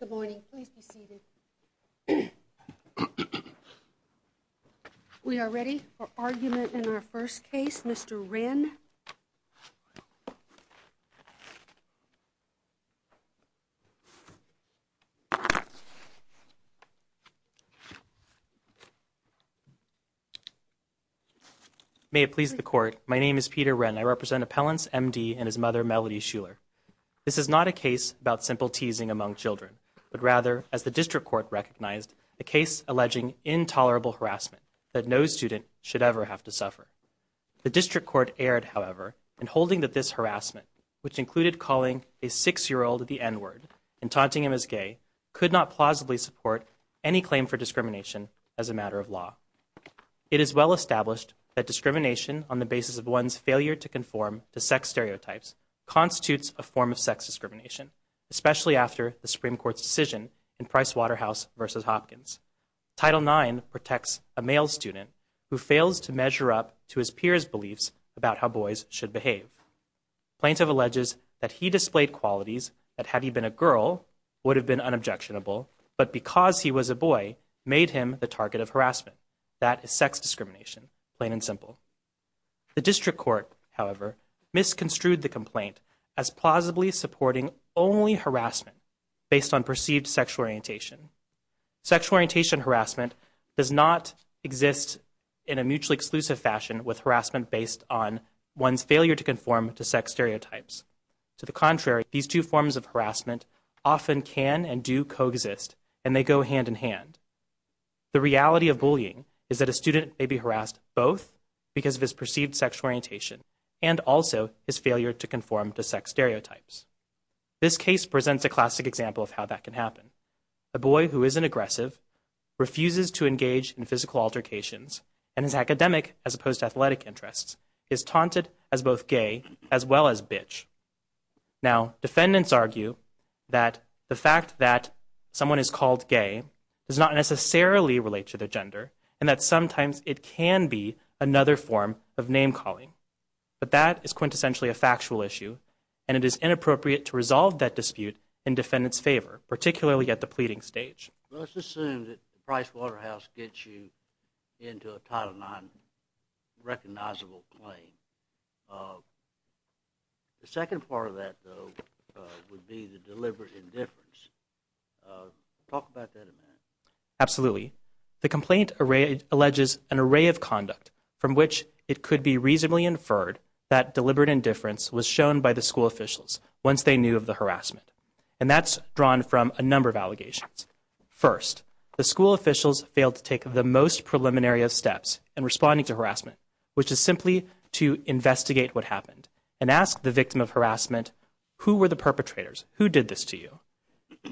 Good morning. Please be seated. We are ready for argument in our first case, Mr. Wren. May it please the Court, my name is Peter Wren. I represent Appellants M.D. and his mother, Melody Shuler. This is not a case about simple teasing among children, but rather, as the District Court recognized, a case alleging intolerable harassment that no student should ever have to suffer. The District Court erred, however, in holding that this harassment, which included calling a six-year-old the N-word and taunting him as gay, could not plausibly support any claim for discrimination as a matter of law. It is well established that discrimination on the basis of one's failure to conform to sex stereotypes constitutes a form of sex discrimination, especially after the Supreme Court's decision in Pricewaterhouse v. Hopkins. Title IX protects a male student who fails to measure up to his peers' beliefs about how boys should behave. Plaintiff alleges that he displayed qualities that, had he been a girl, would have been unobjectionable, but because he was a boy, made him the target of harassment. That is sex discrimination, plain and simple. The District Court, however, misconstrued the complaint as plausibly supporting only harassment based on perceived sexual orientation. Sexual orientation harassment does not exist in a mutually exclusive fashion with harassment based on one's failure to conform to sex stereotypes. To the contrary, these two forms of harassment often can and do coexist, and they go hand in hand. The reality of bullying is that a student may be harassed both because of his perceived sexual orientation and also his failure to conform to sex stereotypes. This case presents a classic example of how that can happen. A boy who isn't aggressive, refuses to engage in physical altercations, and is academic as opposed to athletic interests, is taunted as both gay as well as bitch. Now, defendants argue that the fact that someone is called gay does not necessarily relate to their gender, and that sometimes it can be another form of name-calling. But that is quintessentially a factual issue, and it is inappropriate to resolve that dispute in defendants' favor, particularly at the pleading stage. Let's assume that Price Waterhouse gets you into a Title IX recognizable claim. The second part of that, though, would be the deliberate indifference. Talk about that a minute. Absolutely. The complaint alleges an array of conduct from which it could be reasonably inferred that deliberate indifference was shown by the school officials once they knew of the harassment. And that's drawn from a number of allegations. First, the school officials failed to take the most preliminary of steps in responding to harassment, which is simply to investigate what happened and ask the victim of harassment, who were the perpetrators? Who did this to you?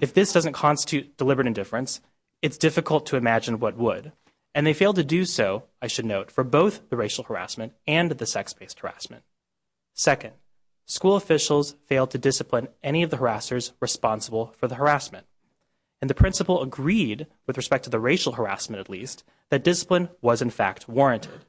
If this doesn't constitute deliberate indifference, it's difficult to imagine what would. And they failed to do so, I should note, for both the racial harassment and the sex-based harassment. Second, school officials failed to discipline any of the harassers responsible for the harassment. And the principal agreed, with respect to the racial harassment at least, that discipline was in fact warranted.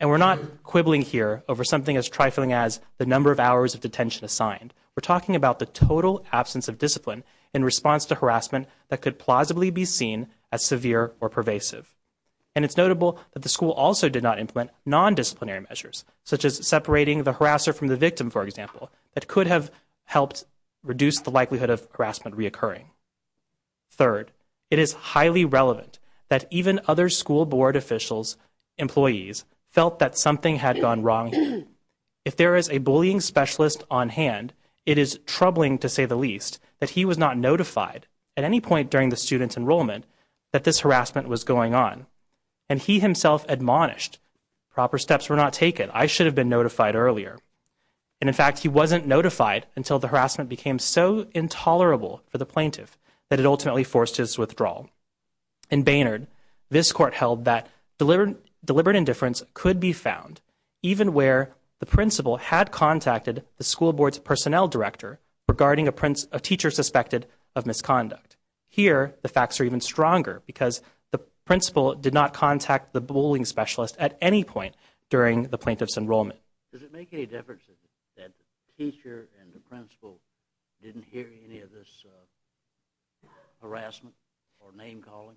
And we're not quibbling here over something as trifling as the number of hours of detention assigned. We're talking about the total absence of discipline in response to harassment that could plausibly be seen as severe or pervasive. And it's notable that the school also did not implement non-disciplinary measures, such as separating the harasser from the victim, for example, that could have helped reduce the likelihood of harassment reoccurring. Third, it is highly relevant that even other school board officials, employees, felt that something had gone wrong here. If there is a bullying specialist on hand, it is troubling to say the least that he was not notified at any point during the student's enrollment that this harassment was going on. And he himself admonished proper steps were not taken. I should have been notified earlier. And in fact, he wasn't notified until the harassment became so intolerable for the plaintiff that it ultimately forced his withdrawal. In Baynard, this court held that deliberate indifference could be found, even where the principal had contacted the school board's personnel director regarding a teacher suspected of misconduct. Here, the facts are even stronger, because the principal did not contact the bullying specialist at any point during the plaintiff's enrollment. Does it make any difference that the teacher and the principal didn't hear any of this harassment or name-calling?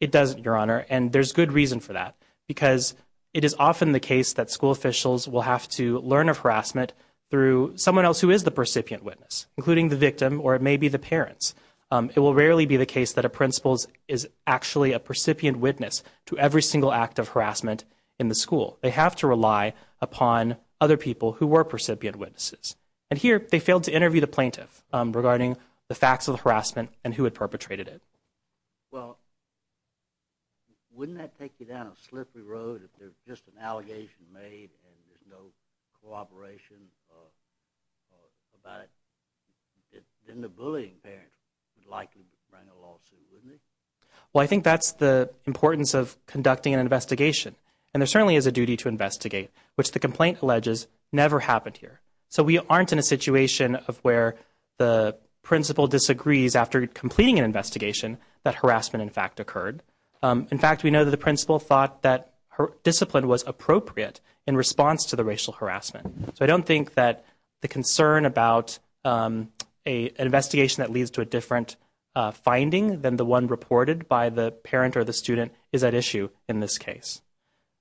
It doesn't, Your Honor, and there's good reason for that, because it is often the case that school officials will have to learn of harassment through someone else who is the percipient witness, including the victim or maybe the parents. It will rarely be the case that a principal is actually a percipient witness to every single act of harassment in the school. They have to rely upon other people who were percipient witnesses. And here, they failed to interview the plaintiff regarding the facts of the harassment and who had perpetrated it. Well, wouldn't that take you down a slippery road if there's just an allegation made and there's no cooperation about it? Then the bullying parents would likely bring a lawsuit, wouldn't they? Well, I think that's the importance of conducting an investigation, and there certainly is a duty to investigate, which the complaint alleges never happened here. So we aren't in a situation of where the principal disagrees after completing an investigation that harassment, in fact, occurred. In fact, we know that the principal thought that discipline was appropriate in response to the racial harassment. So I don't think that the concern about an investigation that leads to a different finding than the one reported by the parent or the student is at issue in this case.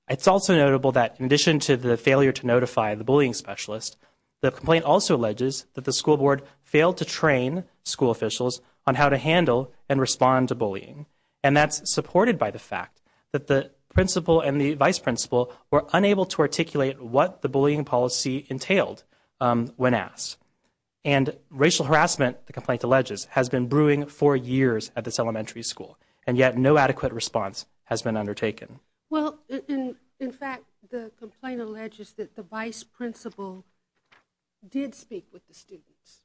It's also notable that in addition to the failure to notify the bullying specialist, the complaint also alleges that the school board failed to train school officials on how to handle and respond to bullying. And that's supported by the fact that the principal and the vice principal were unable to articulate what the bullying policy entailed when asked. And racial harassment, the complaint alleges, has been brewing for years at this elementary school, and yet no adequate response has been undertaken. Well, in fact, the complaint alleges that the vice principal did speak with the students.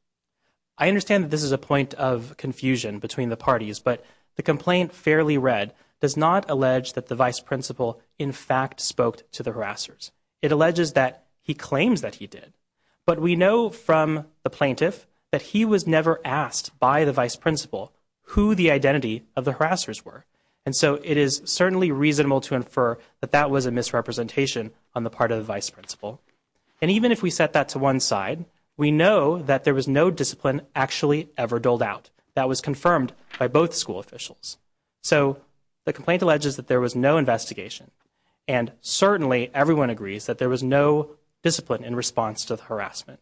I understand that this is a point of confusion between the parties, but the complaint fairly read does not allege that the vice principal in fact spoke to the harassers. It alleges that he claims that he did. But we know from the plaintiff that he was never asked by the vice principal who the identity of the harassers were. And so it is certainly reasonable to infer that that was a misrepresentation on the part of the vice principal. And even if we set that to one side, we know that there was no discipline actually ever doled out. That was confirmed by both school officials. So the complaint alleges that there was no investigation, and certainly everyone agrees that there was no discipline in response to the harassment.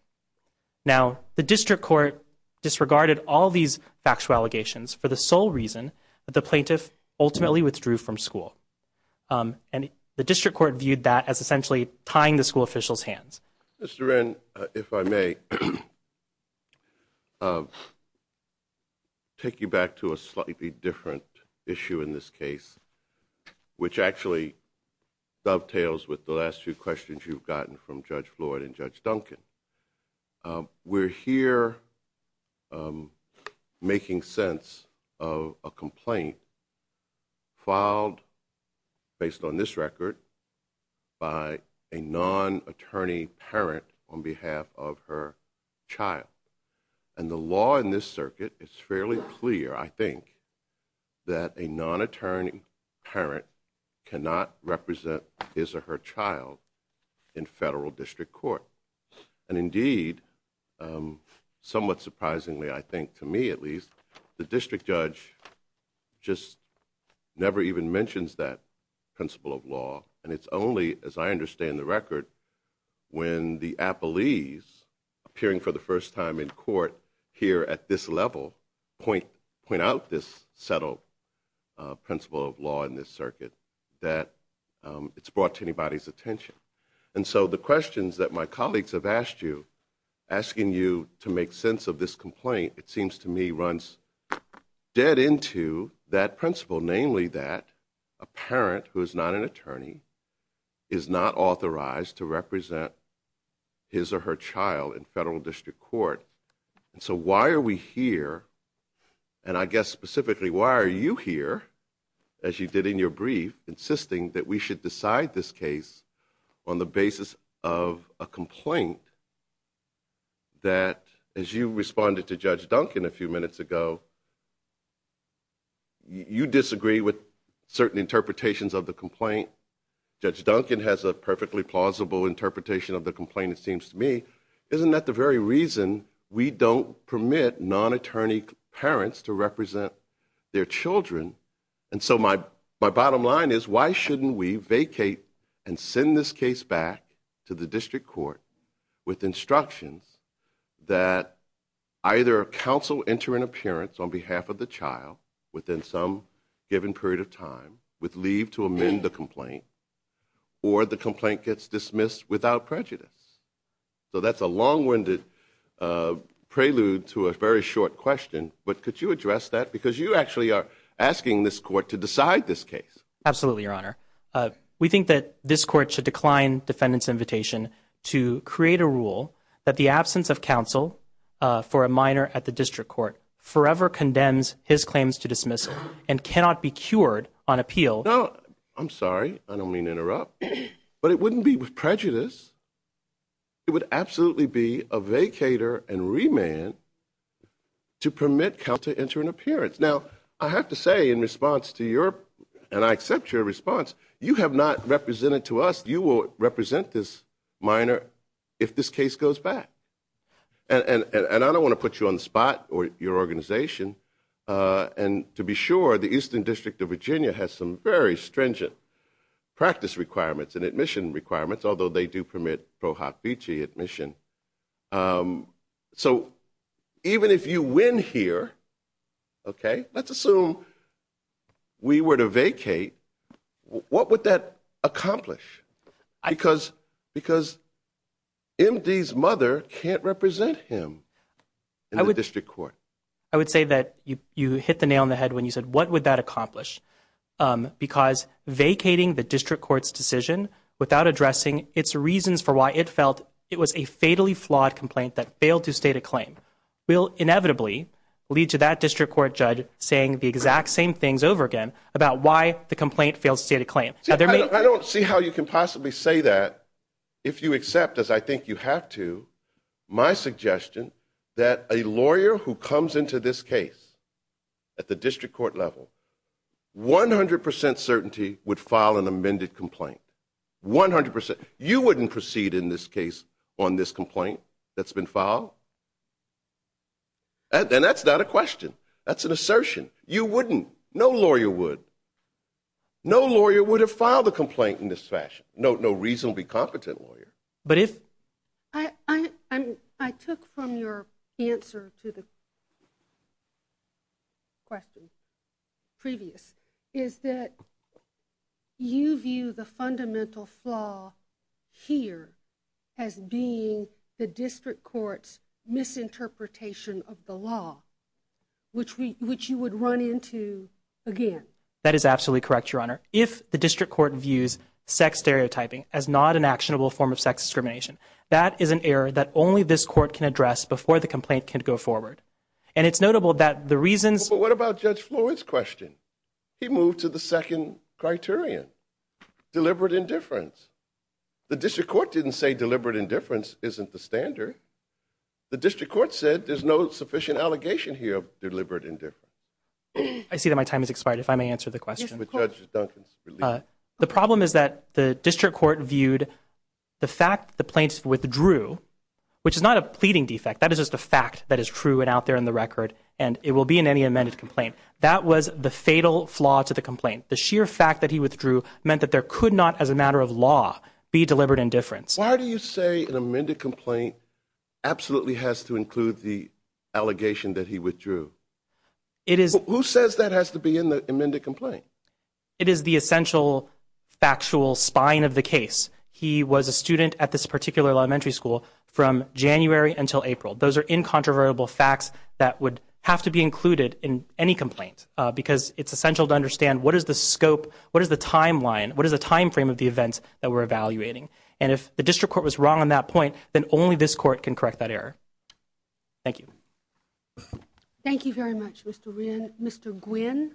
Now, the district court disregarded all these factual allegations for the sole reason that the plaintiff ultimately withdrew from school. And the district court viewed that as essentially tying the school officials' hands. Mr. Wren, if I may, take you back to a slightly different issue in this case, which actually dovetails with the last few questions you've gotten from Judge Floyd and Judge Duncan. We're here making sense of a complaint filed, based on this record, by a non-attorney parent on behalf of her child. And the law in this circuit is fairly clear, I think, that a non-attorney parent cannot represent his or her child in federal district court. And indeed, somewhat surprisingly, I think, to me at least, the district judge just never even mentions that principle of law. And it's only, as I understand the record, when the appellees appearing for the first time in court here at this level point out this settled principle of law in this circuit that it's brought to anybody's attention. And so the questions that my colleagues have asked you, asking you to make sense of this complaint, it seems to me runs dead into that principle, namely that a parent who is not an attorney is not authorized to represent his or her child in federal district court. And so why are we here, and I guess specifically why are you here, as you did in your brief, insisting that we should decide this case on the basis of a complaint that, as you responded to Judge Duncan a few minutes ago, you disagree with certain interpretations of the complaint. Judge Duncan has a perfectly plausible interpretation of the complaint, it seems to me. Isn't that the very reason we don't permit non-attorney parents to represent their children? And so my bottom line is, why shouldn't we vacate and send this case back to the district court with instructions that either counsel enter an appearance on behalf of the child within some given period of time with leave to amend the complaint, or the complaint gets dismissed without prejudice? So that's a long-winded prelude to a very short question, but could you address that? Because you actually are asking this court to decide this case. Absolutely, Your Honor. We think that this court should decline defendant's invitation to create a rule that the absence of counsel for a minor at the district court forever condemns his claims to dismissal and cannot be cured on appeal. No, I'm sorry, I don't mean to interrupt, but it wouldn't be with prejudice. It would absolutely be a vacater and remand to permit counsel to enter an appearance. Now, I have to say in response to your, and I accept your response, you have not represented to us, you will represent this minor if this case goes back. And I don't want to put you on the spot or your organization, and to be sure, the Eastern District of Virginia has some very stringent practice requirements and admission requirements, although they do permit pro hoc vici admission. So even if you win here, okay, let's assume we were to vacate, what would that accomplish? Because MD's mother can't represent him in the district court. I would say that you hit the nail on the head when you said, what would that accomplish? Because vacating the district court's decision without addressing its reasons for why it felt it was a fatally flawed complaint that failed to state a claim will inevitably lead to that district court judge saying the exact same things over again about why the complaint failed to state a claim. I don't see how you can possibly say that if you accept, as I think you have to, my suggestion that a lawyer who comes into this case at the district court level, 100% certainty would file an amended complaint. 100%. You wouldn't proceed in this case on this complaint that's been filed? And that's not a question. That's an assertion. You wouldn't. No lawyer would. No lawyer would have filed a complaint in this fashion. No reasonably competent lawyer. I took from your answer to the question previous is that you view the fundamental flaw here as being the district court's misinterpretation of the law, which you would run into again. That is absolutely correct, Your Honor. If the district court views sex stereotyping as not an actionable form of sex discrimination, that is an error that only this court can address before the complaint can go forward. And it's notable that the reasons... But what about Judge Floyd's question? He moved to the second criterion, deliberate indifference. The district court didn't say deliberate indifference isn't the standard. The district court said there's no sufficient allegation here of deliberate indifference. I see that my time has expired. If I may answer the question. Judge Duncan, please. The problem is that the district court viewed the fact the plaintiff withdrew, which is not a pleading defect. That is just a fact that is true and out there in the record, and it will be in any amended complaint. That was the fatal flaw to the complaint. The sheer fact that he withdrew meant that there could not, as a matter of law, be deliberate indifference. Why do you say an amended complaint absolutely has to include the allegation that he withdrew? Who says that has to be in the amended complaint? It is the essential factual spine of the case. He was a student at this particular elementary school from January until April. Those are incontrovertible facts that would have to be included in any complaint because it's essential to understand what is the scope, what is the timeline, what is the time frame of the events that we're evaluating. And if the district court was wrong on that point, then only this court can correct that error. Thank you. Thank you very much, Mr. Gwynn.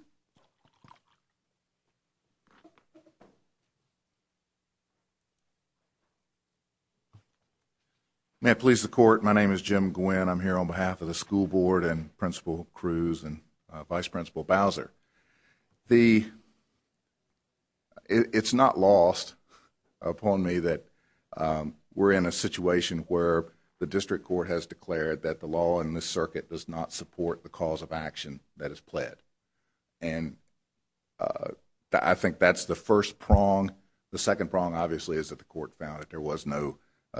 May it please the Court, my name is Jim Gwynn. I'm here on behalf of the school board and Principal Cruz and Vice Principal Bowser. It's not lost upon me that we're in a situation where the district court has declared that the law in this circuit does not support the cause of action that is pled. And I think that's the first prong. The second prong, obviously, is that the court found that there was no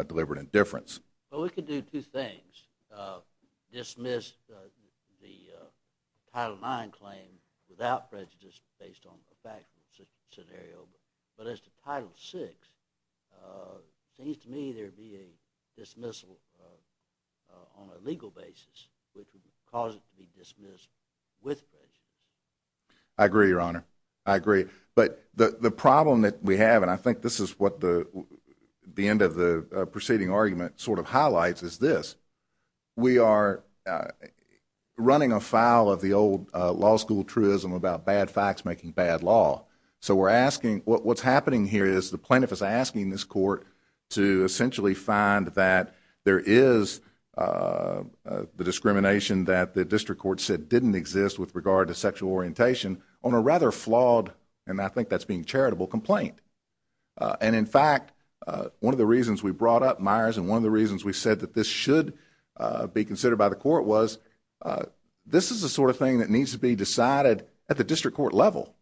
deliberate indifference. Well, we could do two things. Dismiss the Title IX claim without prejudice based on the factual scenario. But as to Title VI, it seems to me there would be a dismissal on a legal basis which would cause it to be dismissed with prejudice. I agree, Your Honor. I agree. But the problem that we have, and I think this is what the end of the preceding argument sort of highlights, is this. We are running afoul of the old law school truism about bad facts making bad law. So we're asking what's happening here is the plaintiff is asking this court to essentially find that there is the discrimination that the district court said didn't exist with regard to sexual orientation on a rather flawed, and I think that's being charitable, complaint. And in fact, one of the reasons we brought up Myers and one of the reasons we said that this should be considered by the court was this is the sort of thing that needs to be decided at the district court level.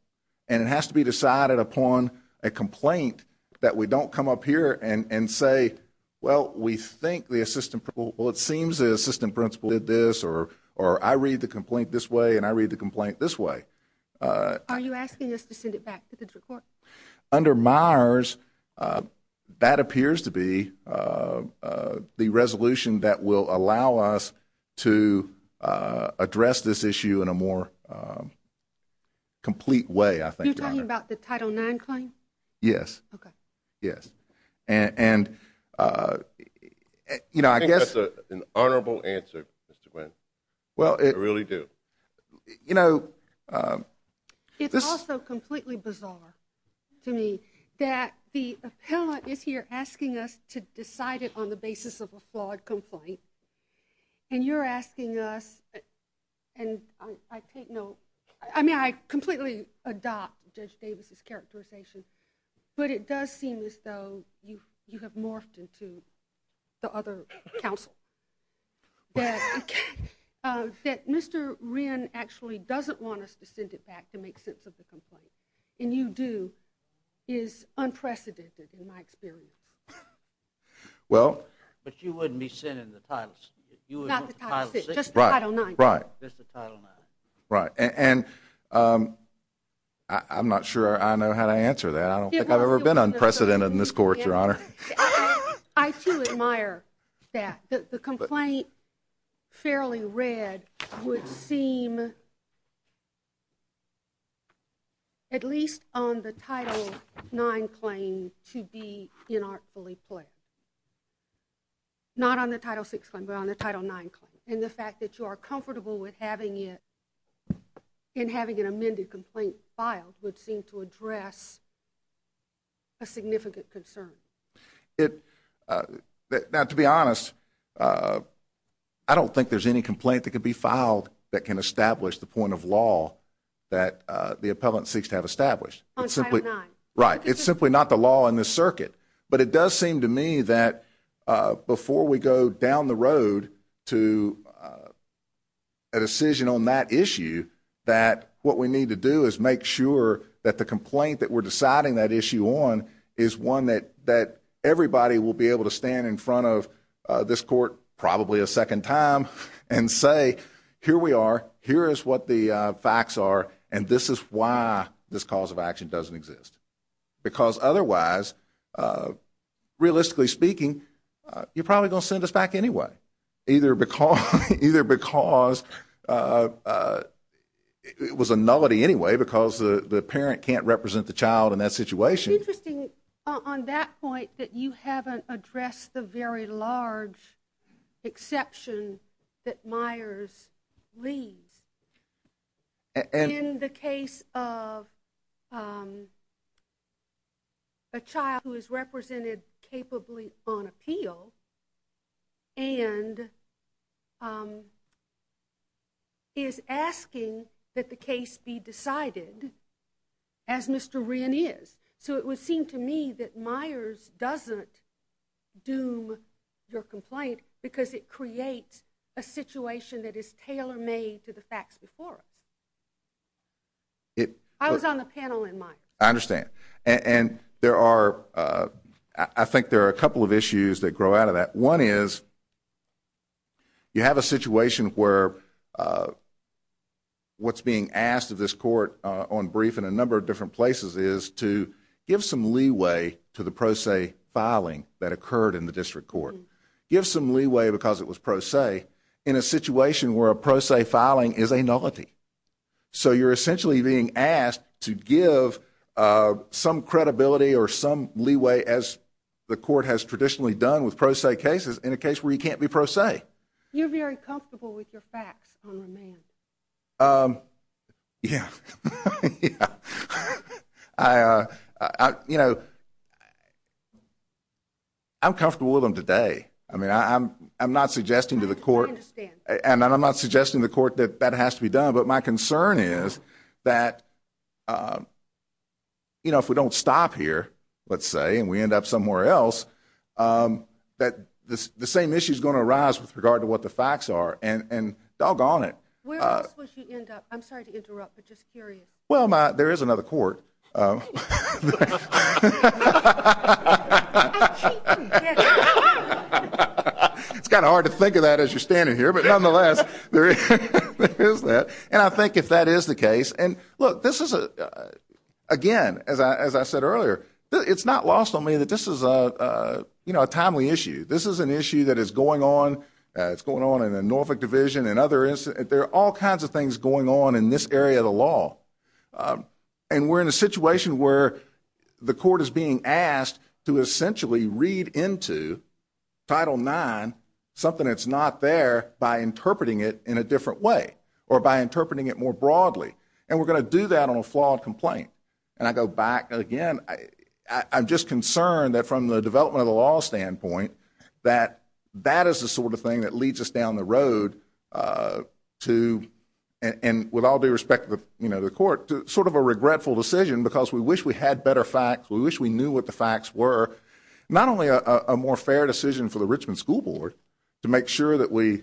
And it has to be decided upon a complaint that we don't come up here and say, well, we think the assistant principal, well, it seems the assistant principal did this or I read the complaint this way and I read the complaint this way. Are you asking us to send it back to the district court? Under Myers, that appears to be the resolution that will allow us to address this issue in a more complete way, I think, Your Honor. You're talking about the Title IX claim? Yes. Okay. Yes. And, you know, I guess... I think that's an honorable answer, Mr. Quinn. Well, it... I really do. You know, this... to me, that the appellant is here asking us to decide it on the basis of a flawed complaint and you're asking us, and I take no... I mean, I completely adopt Judge Davis' characterization, but it does seem as though you have morphed into the other counsel. That Mr. Wren actually doesn't want us to send it back to make sense of the complaint and you do is unprecedented in my experience. Well... But you wouldn't be sending the Title... Not the Title VI, just the Title IX. Right. Just the Title IX. Right. And I'm not sure I know how to answer that. I don't think I've ever been unprecedented in this court, Your Honor. I, too, admire that. The complaint, fairly read, would seem... at least on the Title IX claim, to be inartfully pled. Not on the Title VI claim, but on the Title IX claim, and the fact that you are comfortable with having it and having an amended complaint filed would seem to address a significant concern. It... Now, to be honest, I don't think there's any complaint that could be filed that can establish the point of law that the appellant seeks to have established. On Title IX. Right. It's simply not the law in this circuit. But it does seem to me that before we go down the road to a decision on that issue, that what we need to do is make sure that the complaint that we're deciding that issue on is one that everybody will be able to stand in front of this court probably a second time and say, here we are, here is what the facts are, and this is why this cause of action doesn't exist. Because otherwise, realistically speaking, you're probably going to send us back anyway. Either because... It was a nullity anyway, because the parent can't represent the child in that situation. It's interesting, on that point, that you haven't addressed the very large exception that Myers leaves. In the case of a child who is represented capably on appeal and is asking that the case be decided, as Mr. Wren is. So it would seem to me that Myers doesn't doom your complaint because it creates a situation that is tailor-made to the facts before us. I was on the panel in Myers. I understand. And I think there are a couple of issues that grow out of that. One is, you have a situation where what's being asked of this court on brief in a number of different places is to give some leeway to the pro se filing that occurred in the district court. To give some leeway, because it was pro se, in a situation where a pro se filing is a nullity. So you're essentially being asked to give some credibility or some leeway, as the court has traditionally done with pro se cases, in a case where you can't be pro se. You're very comfortable with your facts on remand. Yeah. Yeah. You know, I'm comfortable with them today. I mean, I'm not suggesting to the court that that has to be done. But my concern is that if we don't stop here, let's say, and we end up somewhere else, that the same issue is going to arise with regard to what the facts are. And doggone it. Where else would you end up? I'm sorry to interrupt, but just curious. Well, there is another court. I'm cheating. It's kind of hard to think of that as you're standing here. But nonetheless, there is that. And I think if that is the case, and look, this is, again, as I said earlier, it's not lost on me that this is a timely issue. This is an issue that is going on. And the Norfolk Division and others, there are all kinds of things going on in this area of the law. And we're in a situation where the court is being asked to essentially read into Title IX, something that's not there, by interpreting it in a different way or by interpreting it more broadly. And we're going to do that on a flawed complaint. And I go back again. I'm just concerned that from the development of the law standpoint that that is the sort of thing that leads us down the road to, and with all due respect to the court, sort of a regretful decision because we wish we had better facts. We wish we knew what the facts were. Not only a more fair decision for the Richmond School Board to make sure that we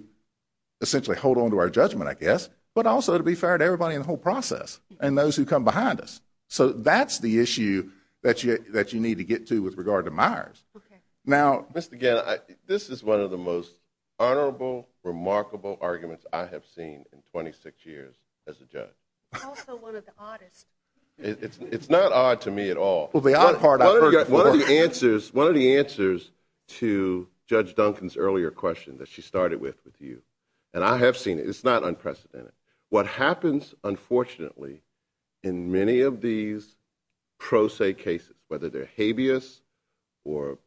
essentially hold on to our judgment, I guess, but also to be fair to everybody in the whole process and those who come behind us. So that's the issue that you need to get to with regard to Myers. Now, Mr. Gann, this is one of the most honorable, remarkable arguments I have seen in 26 years as a judge. Also one of the oddest. It's not odd to me at all. Well, the odd part I've heard before. One of the answers to Judge Duncan's earlier question that she started with with you, and I have seen it, it's not unprecedented. What happens, unfortunately, in many of these pro se cases, whether they're habeas or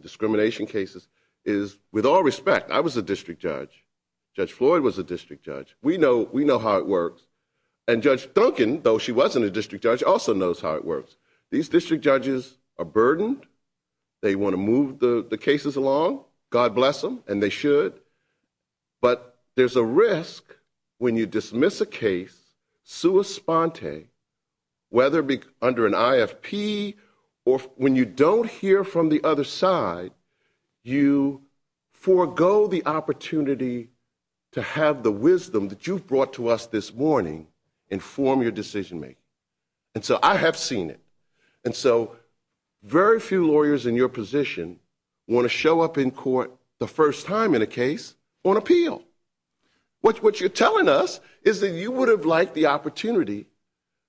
discrimination cases, is with all respect, I was a district judge. Judge Floyd was a district judge. We know how it works. And Judge Duncan, though she wasn't a district judge, also knows how it works. These district judges are burdened. They want to move the cases along. God bless them, and they should. But there's a risk when you dismiss a case, whether under an IFP or when you don't hear from the other side, you forego the opportunity to have the wisdom that you've brought to us this morning inform your decision-making. And so I have seen it. And so very few lawyers in your position want to show up in court the first time in a case on appeal. What you're telling us is that you would have liked the opportunity,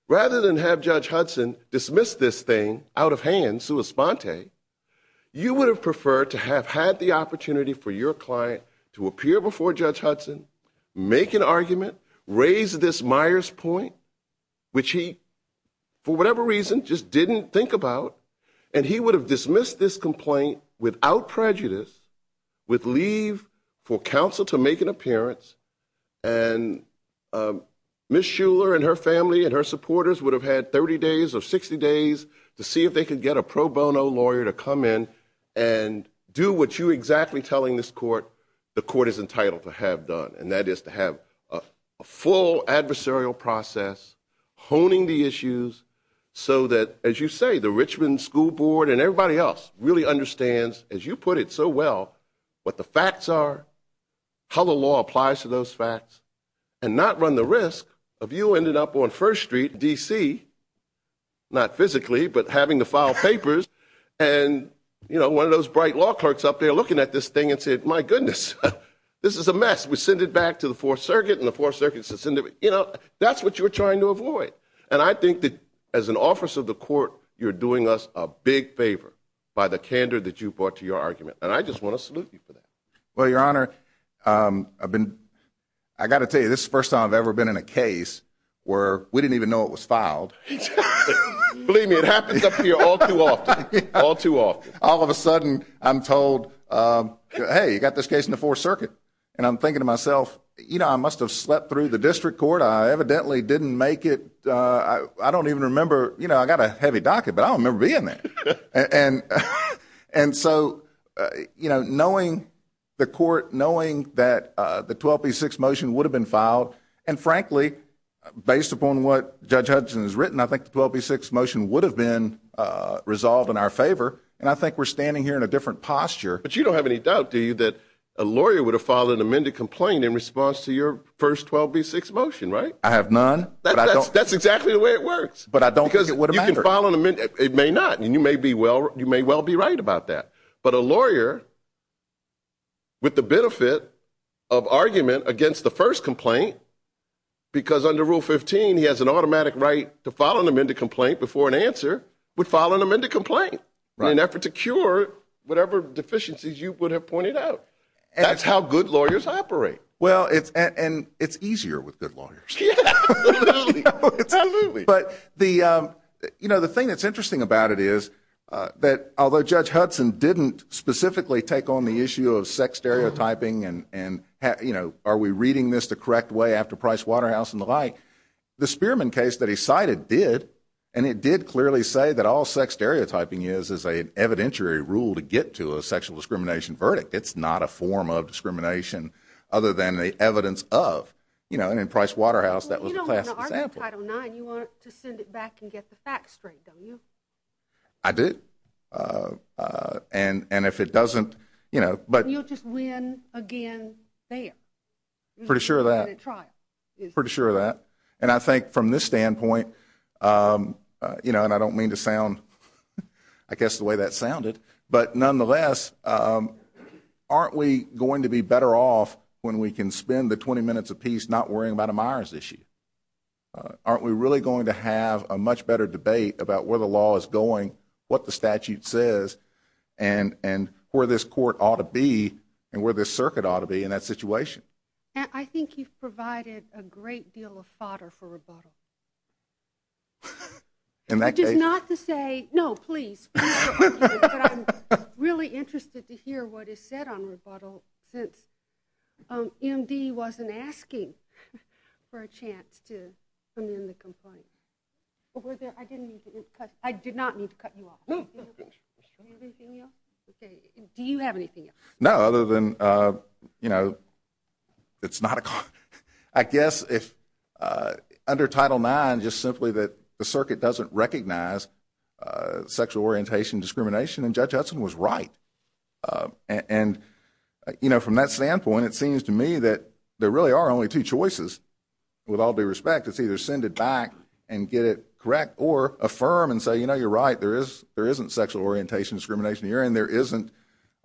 rather than have Judge Hudson dismiss this thing out of hand, sua sponte, you would have preferred to have had the opportunity for your client to appear before Judge Hudson, make an argument, raise this Myers point, which he, for whatever reason, just didn't think about, and he would have dismissed this complaint without prejudice, with leave for counsel to make an appearance, and Ms. Shuler and her family and her supporters would have had 30 days or 60 days to see if they could get a pro bono lawyer to come in and do what you're exactly telling this court the court is entitled to have done, and that is to have a full adversarial process, honing the issues, so that, as you say, the Richmond School Board and everybody else really understands, as you put it so well, what the facts are, how the law applies to those facts, and not run the risk of you ending up on First Street, D.C., not physically, but having to file papers, and one of those bright law clerks up there looking at this thing and said, My goodness, this is a mess. We send it back to the Fourth Circuit, and the Fourth Circuit says, You know, that's what you're trying to avoid. And I think that, as an officer of the court, you're doing us a big favor by the candor that you brought to your argument, and I just want to salute you for that. Well, Your Honor, I've been, I've got to tell you, this is the first time I've ever been in a case where we didn't even know it was filed. Believe me, it happens up here all too often, all too often. All of a sudden, I'm told, Hey, you've got this case in the Fourth Circuit, and I'm thinking to myself, You know, I must have slept through the district court. I evidently didn't make it. I don't even remember. You know, I've got a heavy docket, but I don't remember being there. And so, you know, knowing the court, knowing that the 12B6 motion would have been filed, and frankly, based upon what Judge Hudson has written, I think the 12B6 motion would have been resolved in our favor, and I think we're standing here in a different posture. But you don't have any doubt, do you, that a lawyer would have filed an amended complaint in response to your first 12B6 motion, right? I have none. That's exactly the way it works. But I don't think it would have mattered. Because you can file an amendment. It may not. And you may well be right about that. But a lawyer, with the benefit of argument against the first complaint, because under Rule 15 he has an automatic right to file an amended complaint before an answer, would file an amended complaint in an effort to cure whatever deficiencies you would have pointed out. That's how good lawyers operate. Well, and it's easier with good lawyers. Absolutely. But, you know, the thing that's interesting about it is that although Judge Hudson didn't specifically take on the issue of sex stereotyping and, you know, are we reading this the correct way after Price Waterhouse and the like, the Spearman case that he cited did, and it did clearly say that all sex stereotyping is is an evidentiary rule to get to a sexual discrimination verdict. It's not a form of discrimination other than the evidence of. You know, and in Price Waterhouse that was a classic example. Well, you don't want to argue Title IX. You want to send it back and get the facts straight, don't you? I do. And if it doesn't, you know, but. You'll just win again there. Pretty sure of that. In a trial. Pretty sure of that. And I think from this standpoint, you know, and I don't mean to sound, I guess the way that sounded. But nonetheless, aren't we going to be better off when we can spend the 20 minutes apiece not worrying about a Myers issue? Aren't we really going to have a much better debate about where the law is going, what the statute says, and where this court ought to be and where this circuit ought to be in that situation? I think you've provided a great deal of fodder for rebuttal. Just not to say, no, please. But I'm really interested to hear what is said on rebuttal since MD wasn't asking for a chance to amend the complaint. I did not mean to cut you off. Do you have anything else? Do you have anything else? No, other than, you know, it's not a. I guess if under Title IX, just simply that the circuit doesn't recognize sexual orientation discrimination, and Judge Hudson was right. And, you know, from that standpoint, it seems to me that there really are only two choices with all due respect. It's either send it back and get it correct or affirm and say, you know, you're right, there isn't sexual orientation discrimination here and there isn't.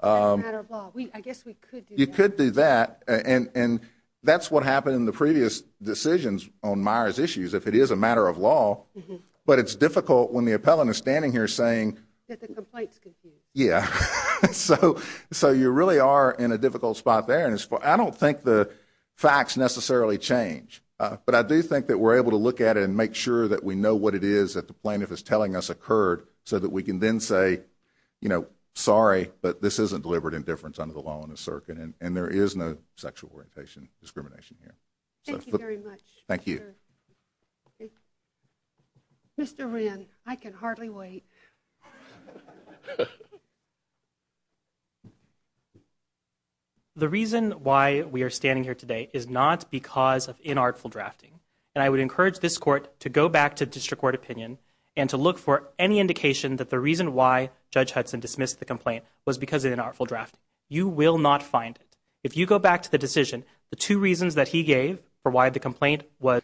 That's a matter of law. I guess we could do that. You could do that. And that's what happened in the previous decisions on Myers' issues, if it is a matter of law. But it's difficult when the appellant is standing here saying. That the complaint's confused. Yeah. So you really are in a difficult spot there. And I don't think the facts necessarily change. But I do think that we're able to look at it and make sure that we know what it is that the plaintiff is telling us occurred so that we can then say, you know, sorry, but this isn't deliberate indifference under the law and the circuit. And there is no sexual orientation discrimination here. Thank you very much. Thank you. Mr. Wren, I can hardly wait. The reason why we are standing here today is not because of inartful drafting. And I would encourage this court to go back to district court opinion and to look for any indication that the reason why Judge Hudson dismissed the complaint was because of inartful drafting. You will not find it. If you go back to the decision, the two reasons that he gave for why the complaint was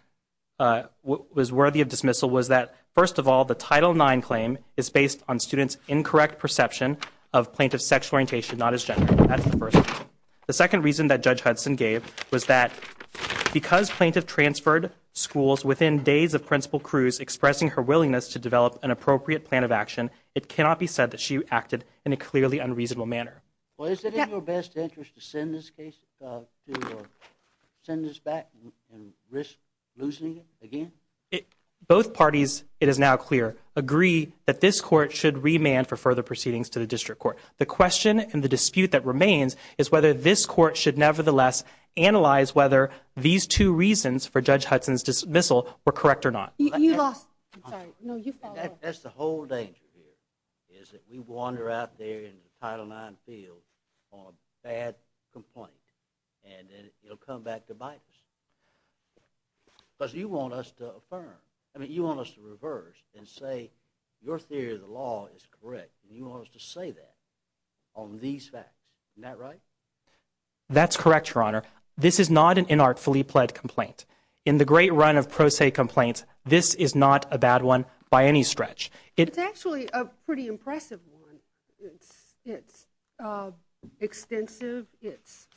worthy of dismissal was that, first of all, the Title IX claim is based on students' incorrect perception of plaintiff's sexual orientation, not his gender. That's the first reason. The second reason that Judge Hudson gave was that because plaintiff transferred schools within days of Principal Cruz expressing her willingness to develop an appropriate plan of action, it cannot be said that she acted in a clearly unreasonable manner. Well, is it in your best interest to send this case, to send this back and risk losing it again? Both parties, it is now clear, agree that this court should remand for further proceedings to the district court. The question and the dispute that remains is whether this court should nevertheless analyze whether these two reasons for Judge Hudson's dismissal were correct or not. You lost. I'm sorry. No, you follow up. That's the whole danger here, is that we wander out there into the Title IX field on a bad complaint, and then it'll come back to bite us. Because you want us to affirm. I mean, you want us to reverse and say your theory of the law is correct, and you want us to say that on these facts. Isn't that right? That's correct, Your Honor. This is not an inartfully pled complaint. In the great run of pro se complaints, this is not a bad one by any stretch. It's actually a pretty impressive one. It's extensive. It's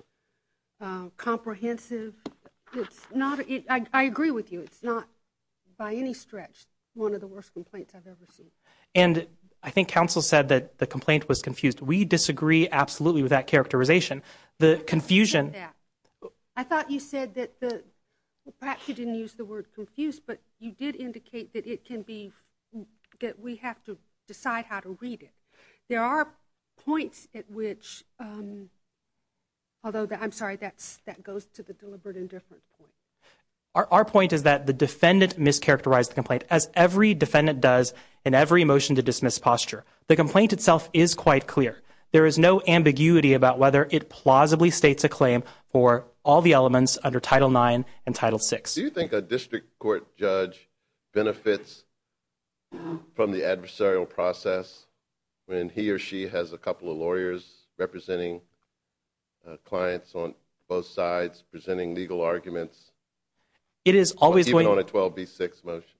comprehensive. I agree with you. It's not by any stretch one of the worst complaints I've ever seen. And I think counsel said that the complaint was confused. We disagree absolutely with that characterization. The confusion. I thought you said that perhaps you didn't use the word confused, but you did indicate that we have to decide how to read it. There are points at which, although I'm sorry, that goes to the deliberate indifference point. Our point is that the defendant mischaracterized the complaint, as every defendant does in every motion to dismiss posture. The complaint itself is quite clear. There is no ambiguity about whether it plausibly states a claim for all the elements under Title IX and Title VI. Do you think a district court judge benefits from the adversarial process when he or she has a couple of lawyers representing clients on both sides, presenting legal arguments, even on a 12B6 motion?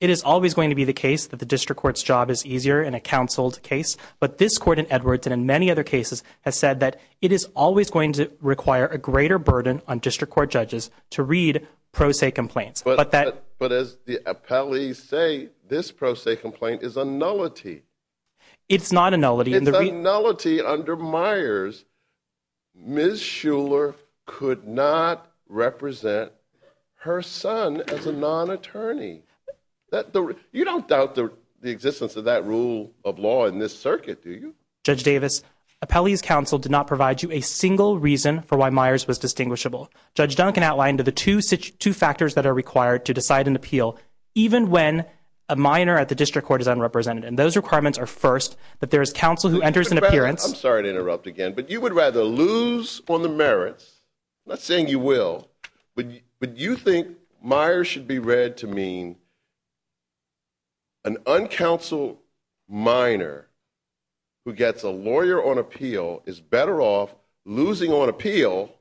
It is always going to be the case that the district court's job is easier in a counsel's case. But this court in Edwards, and in many other cases, has said that it is always going to require a greater burden on district court judges to read pro se complaints. But as the appellees say, this pro se complaint is a nullity. It's not a nullity. It's a nullity under Myers. Ms. Shuler could not represent her son as a non-attorney. You don't doubt the existence of that rule of law in this circuit, do you? Judge Davis, appellee's counsel did not provide you a single reason for why Myers was indistinguishable. Judge Duncan outlined the two factors that are required to decide an appeal, even when a minor at the district court is unrepresented. And those requirements are, first, that there is counsel who enters an appearance. I'm sorry to interrupt again, but you would rather lose on the merits. I'm not saying you will. But you think Myers should be read to mean an uncounseled minor who gets a fair appeal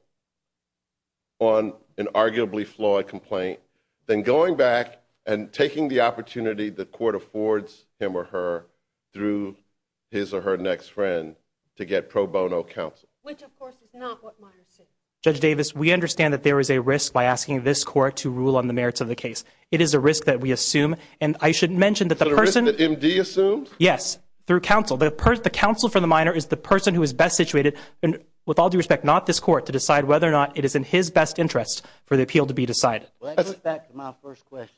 on an arguably flawed complaint than going back and taking the opportunity the court affords him or her through his or her next friend to get pro bono counsel. Which, of course, is not what Myers said. Judge Davis, we understand that there is a risk by asking this court to rule on the merits of the case. It is a risk that we assume. And I should mention that the person. Is it a risk that MD assumed? Yes. Through counsel. The counsel for the minor is the person who is best situated. And with all due respect, not this court to decide whether or not it is in his best interest for the appeal to be decided. Back to my first question.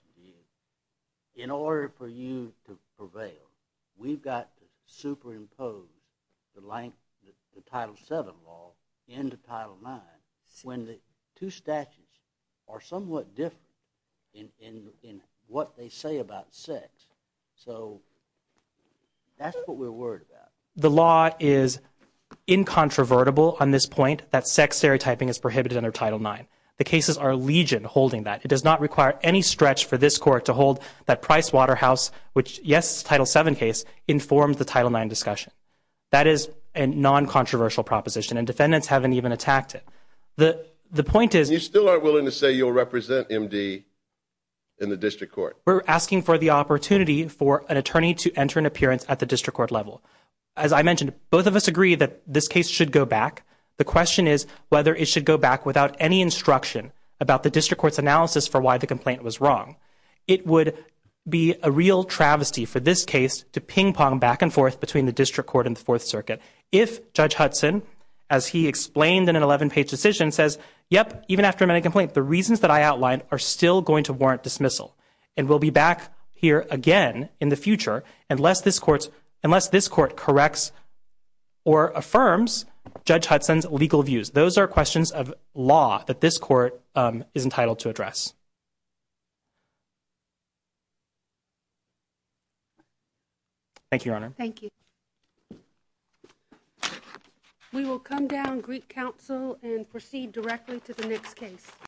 In order for you to prevail, we've got superimposed the length, the title seven law in the title nine when the two statutes are somewhat different in what they say about sex. So that's what we're worried about. The law is incontrovertible on this point. That sex stereotyping is prohibited under title nine. The cases are legion holding that it does not require any stretch for this court to hold that price Waterhouse, which yes, title seven case informed the title nine discussion. That is a non-controversial proposition and defendants haven't even attacked it. The point is you still aren't willing to say you'll represent MD in the district court. We're asking for the opportunity for an attorney to enter an appearance at the district court level. As I mentioned, both of us agree that this case should go back. The question is whether it should go back without any instruction about the district court's analysis for why the complaint was wrong. It would be a real travesty for this case to ping pong back and forth between the district court and the fourth circuit. If judge Hudson, as he explained in an 11 page decision says, yep, even after many complaints, the reasons that I outlined are still going to warrant dismissal and we'll be back here again in the future. Unless this court, unless this court corrects or affirms judge Hudson's legal views. Those are questions of law that this court is entitled to address. Thank you, your honor. Thank you. We will come down Greek council and proceed directly to the next case.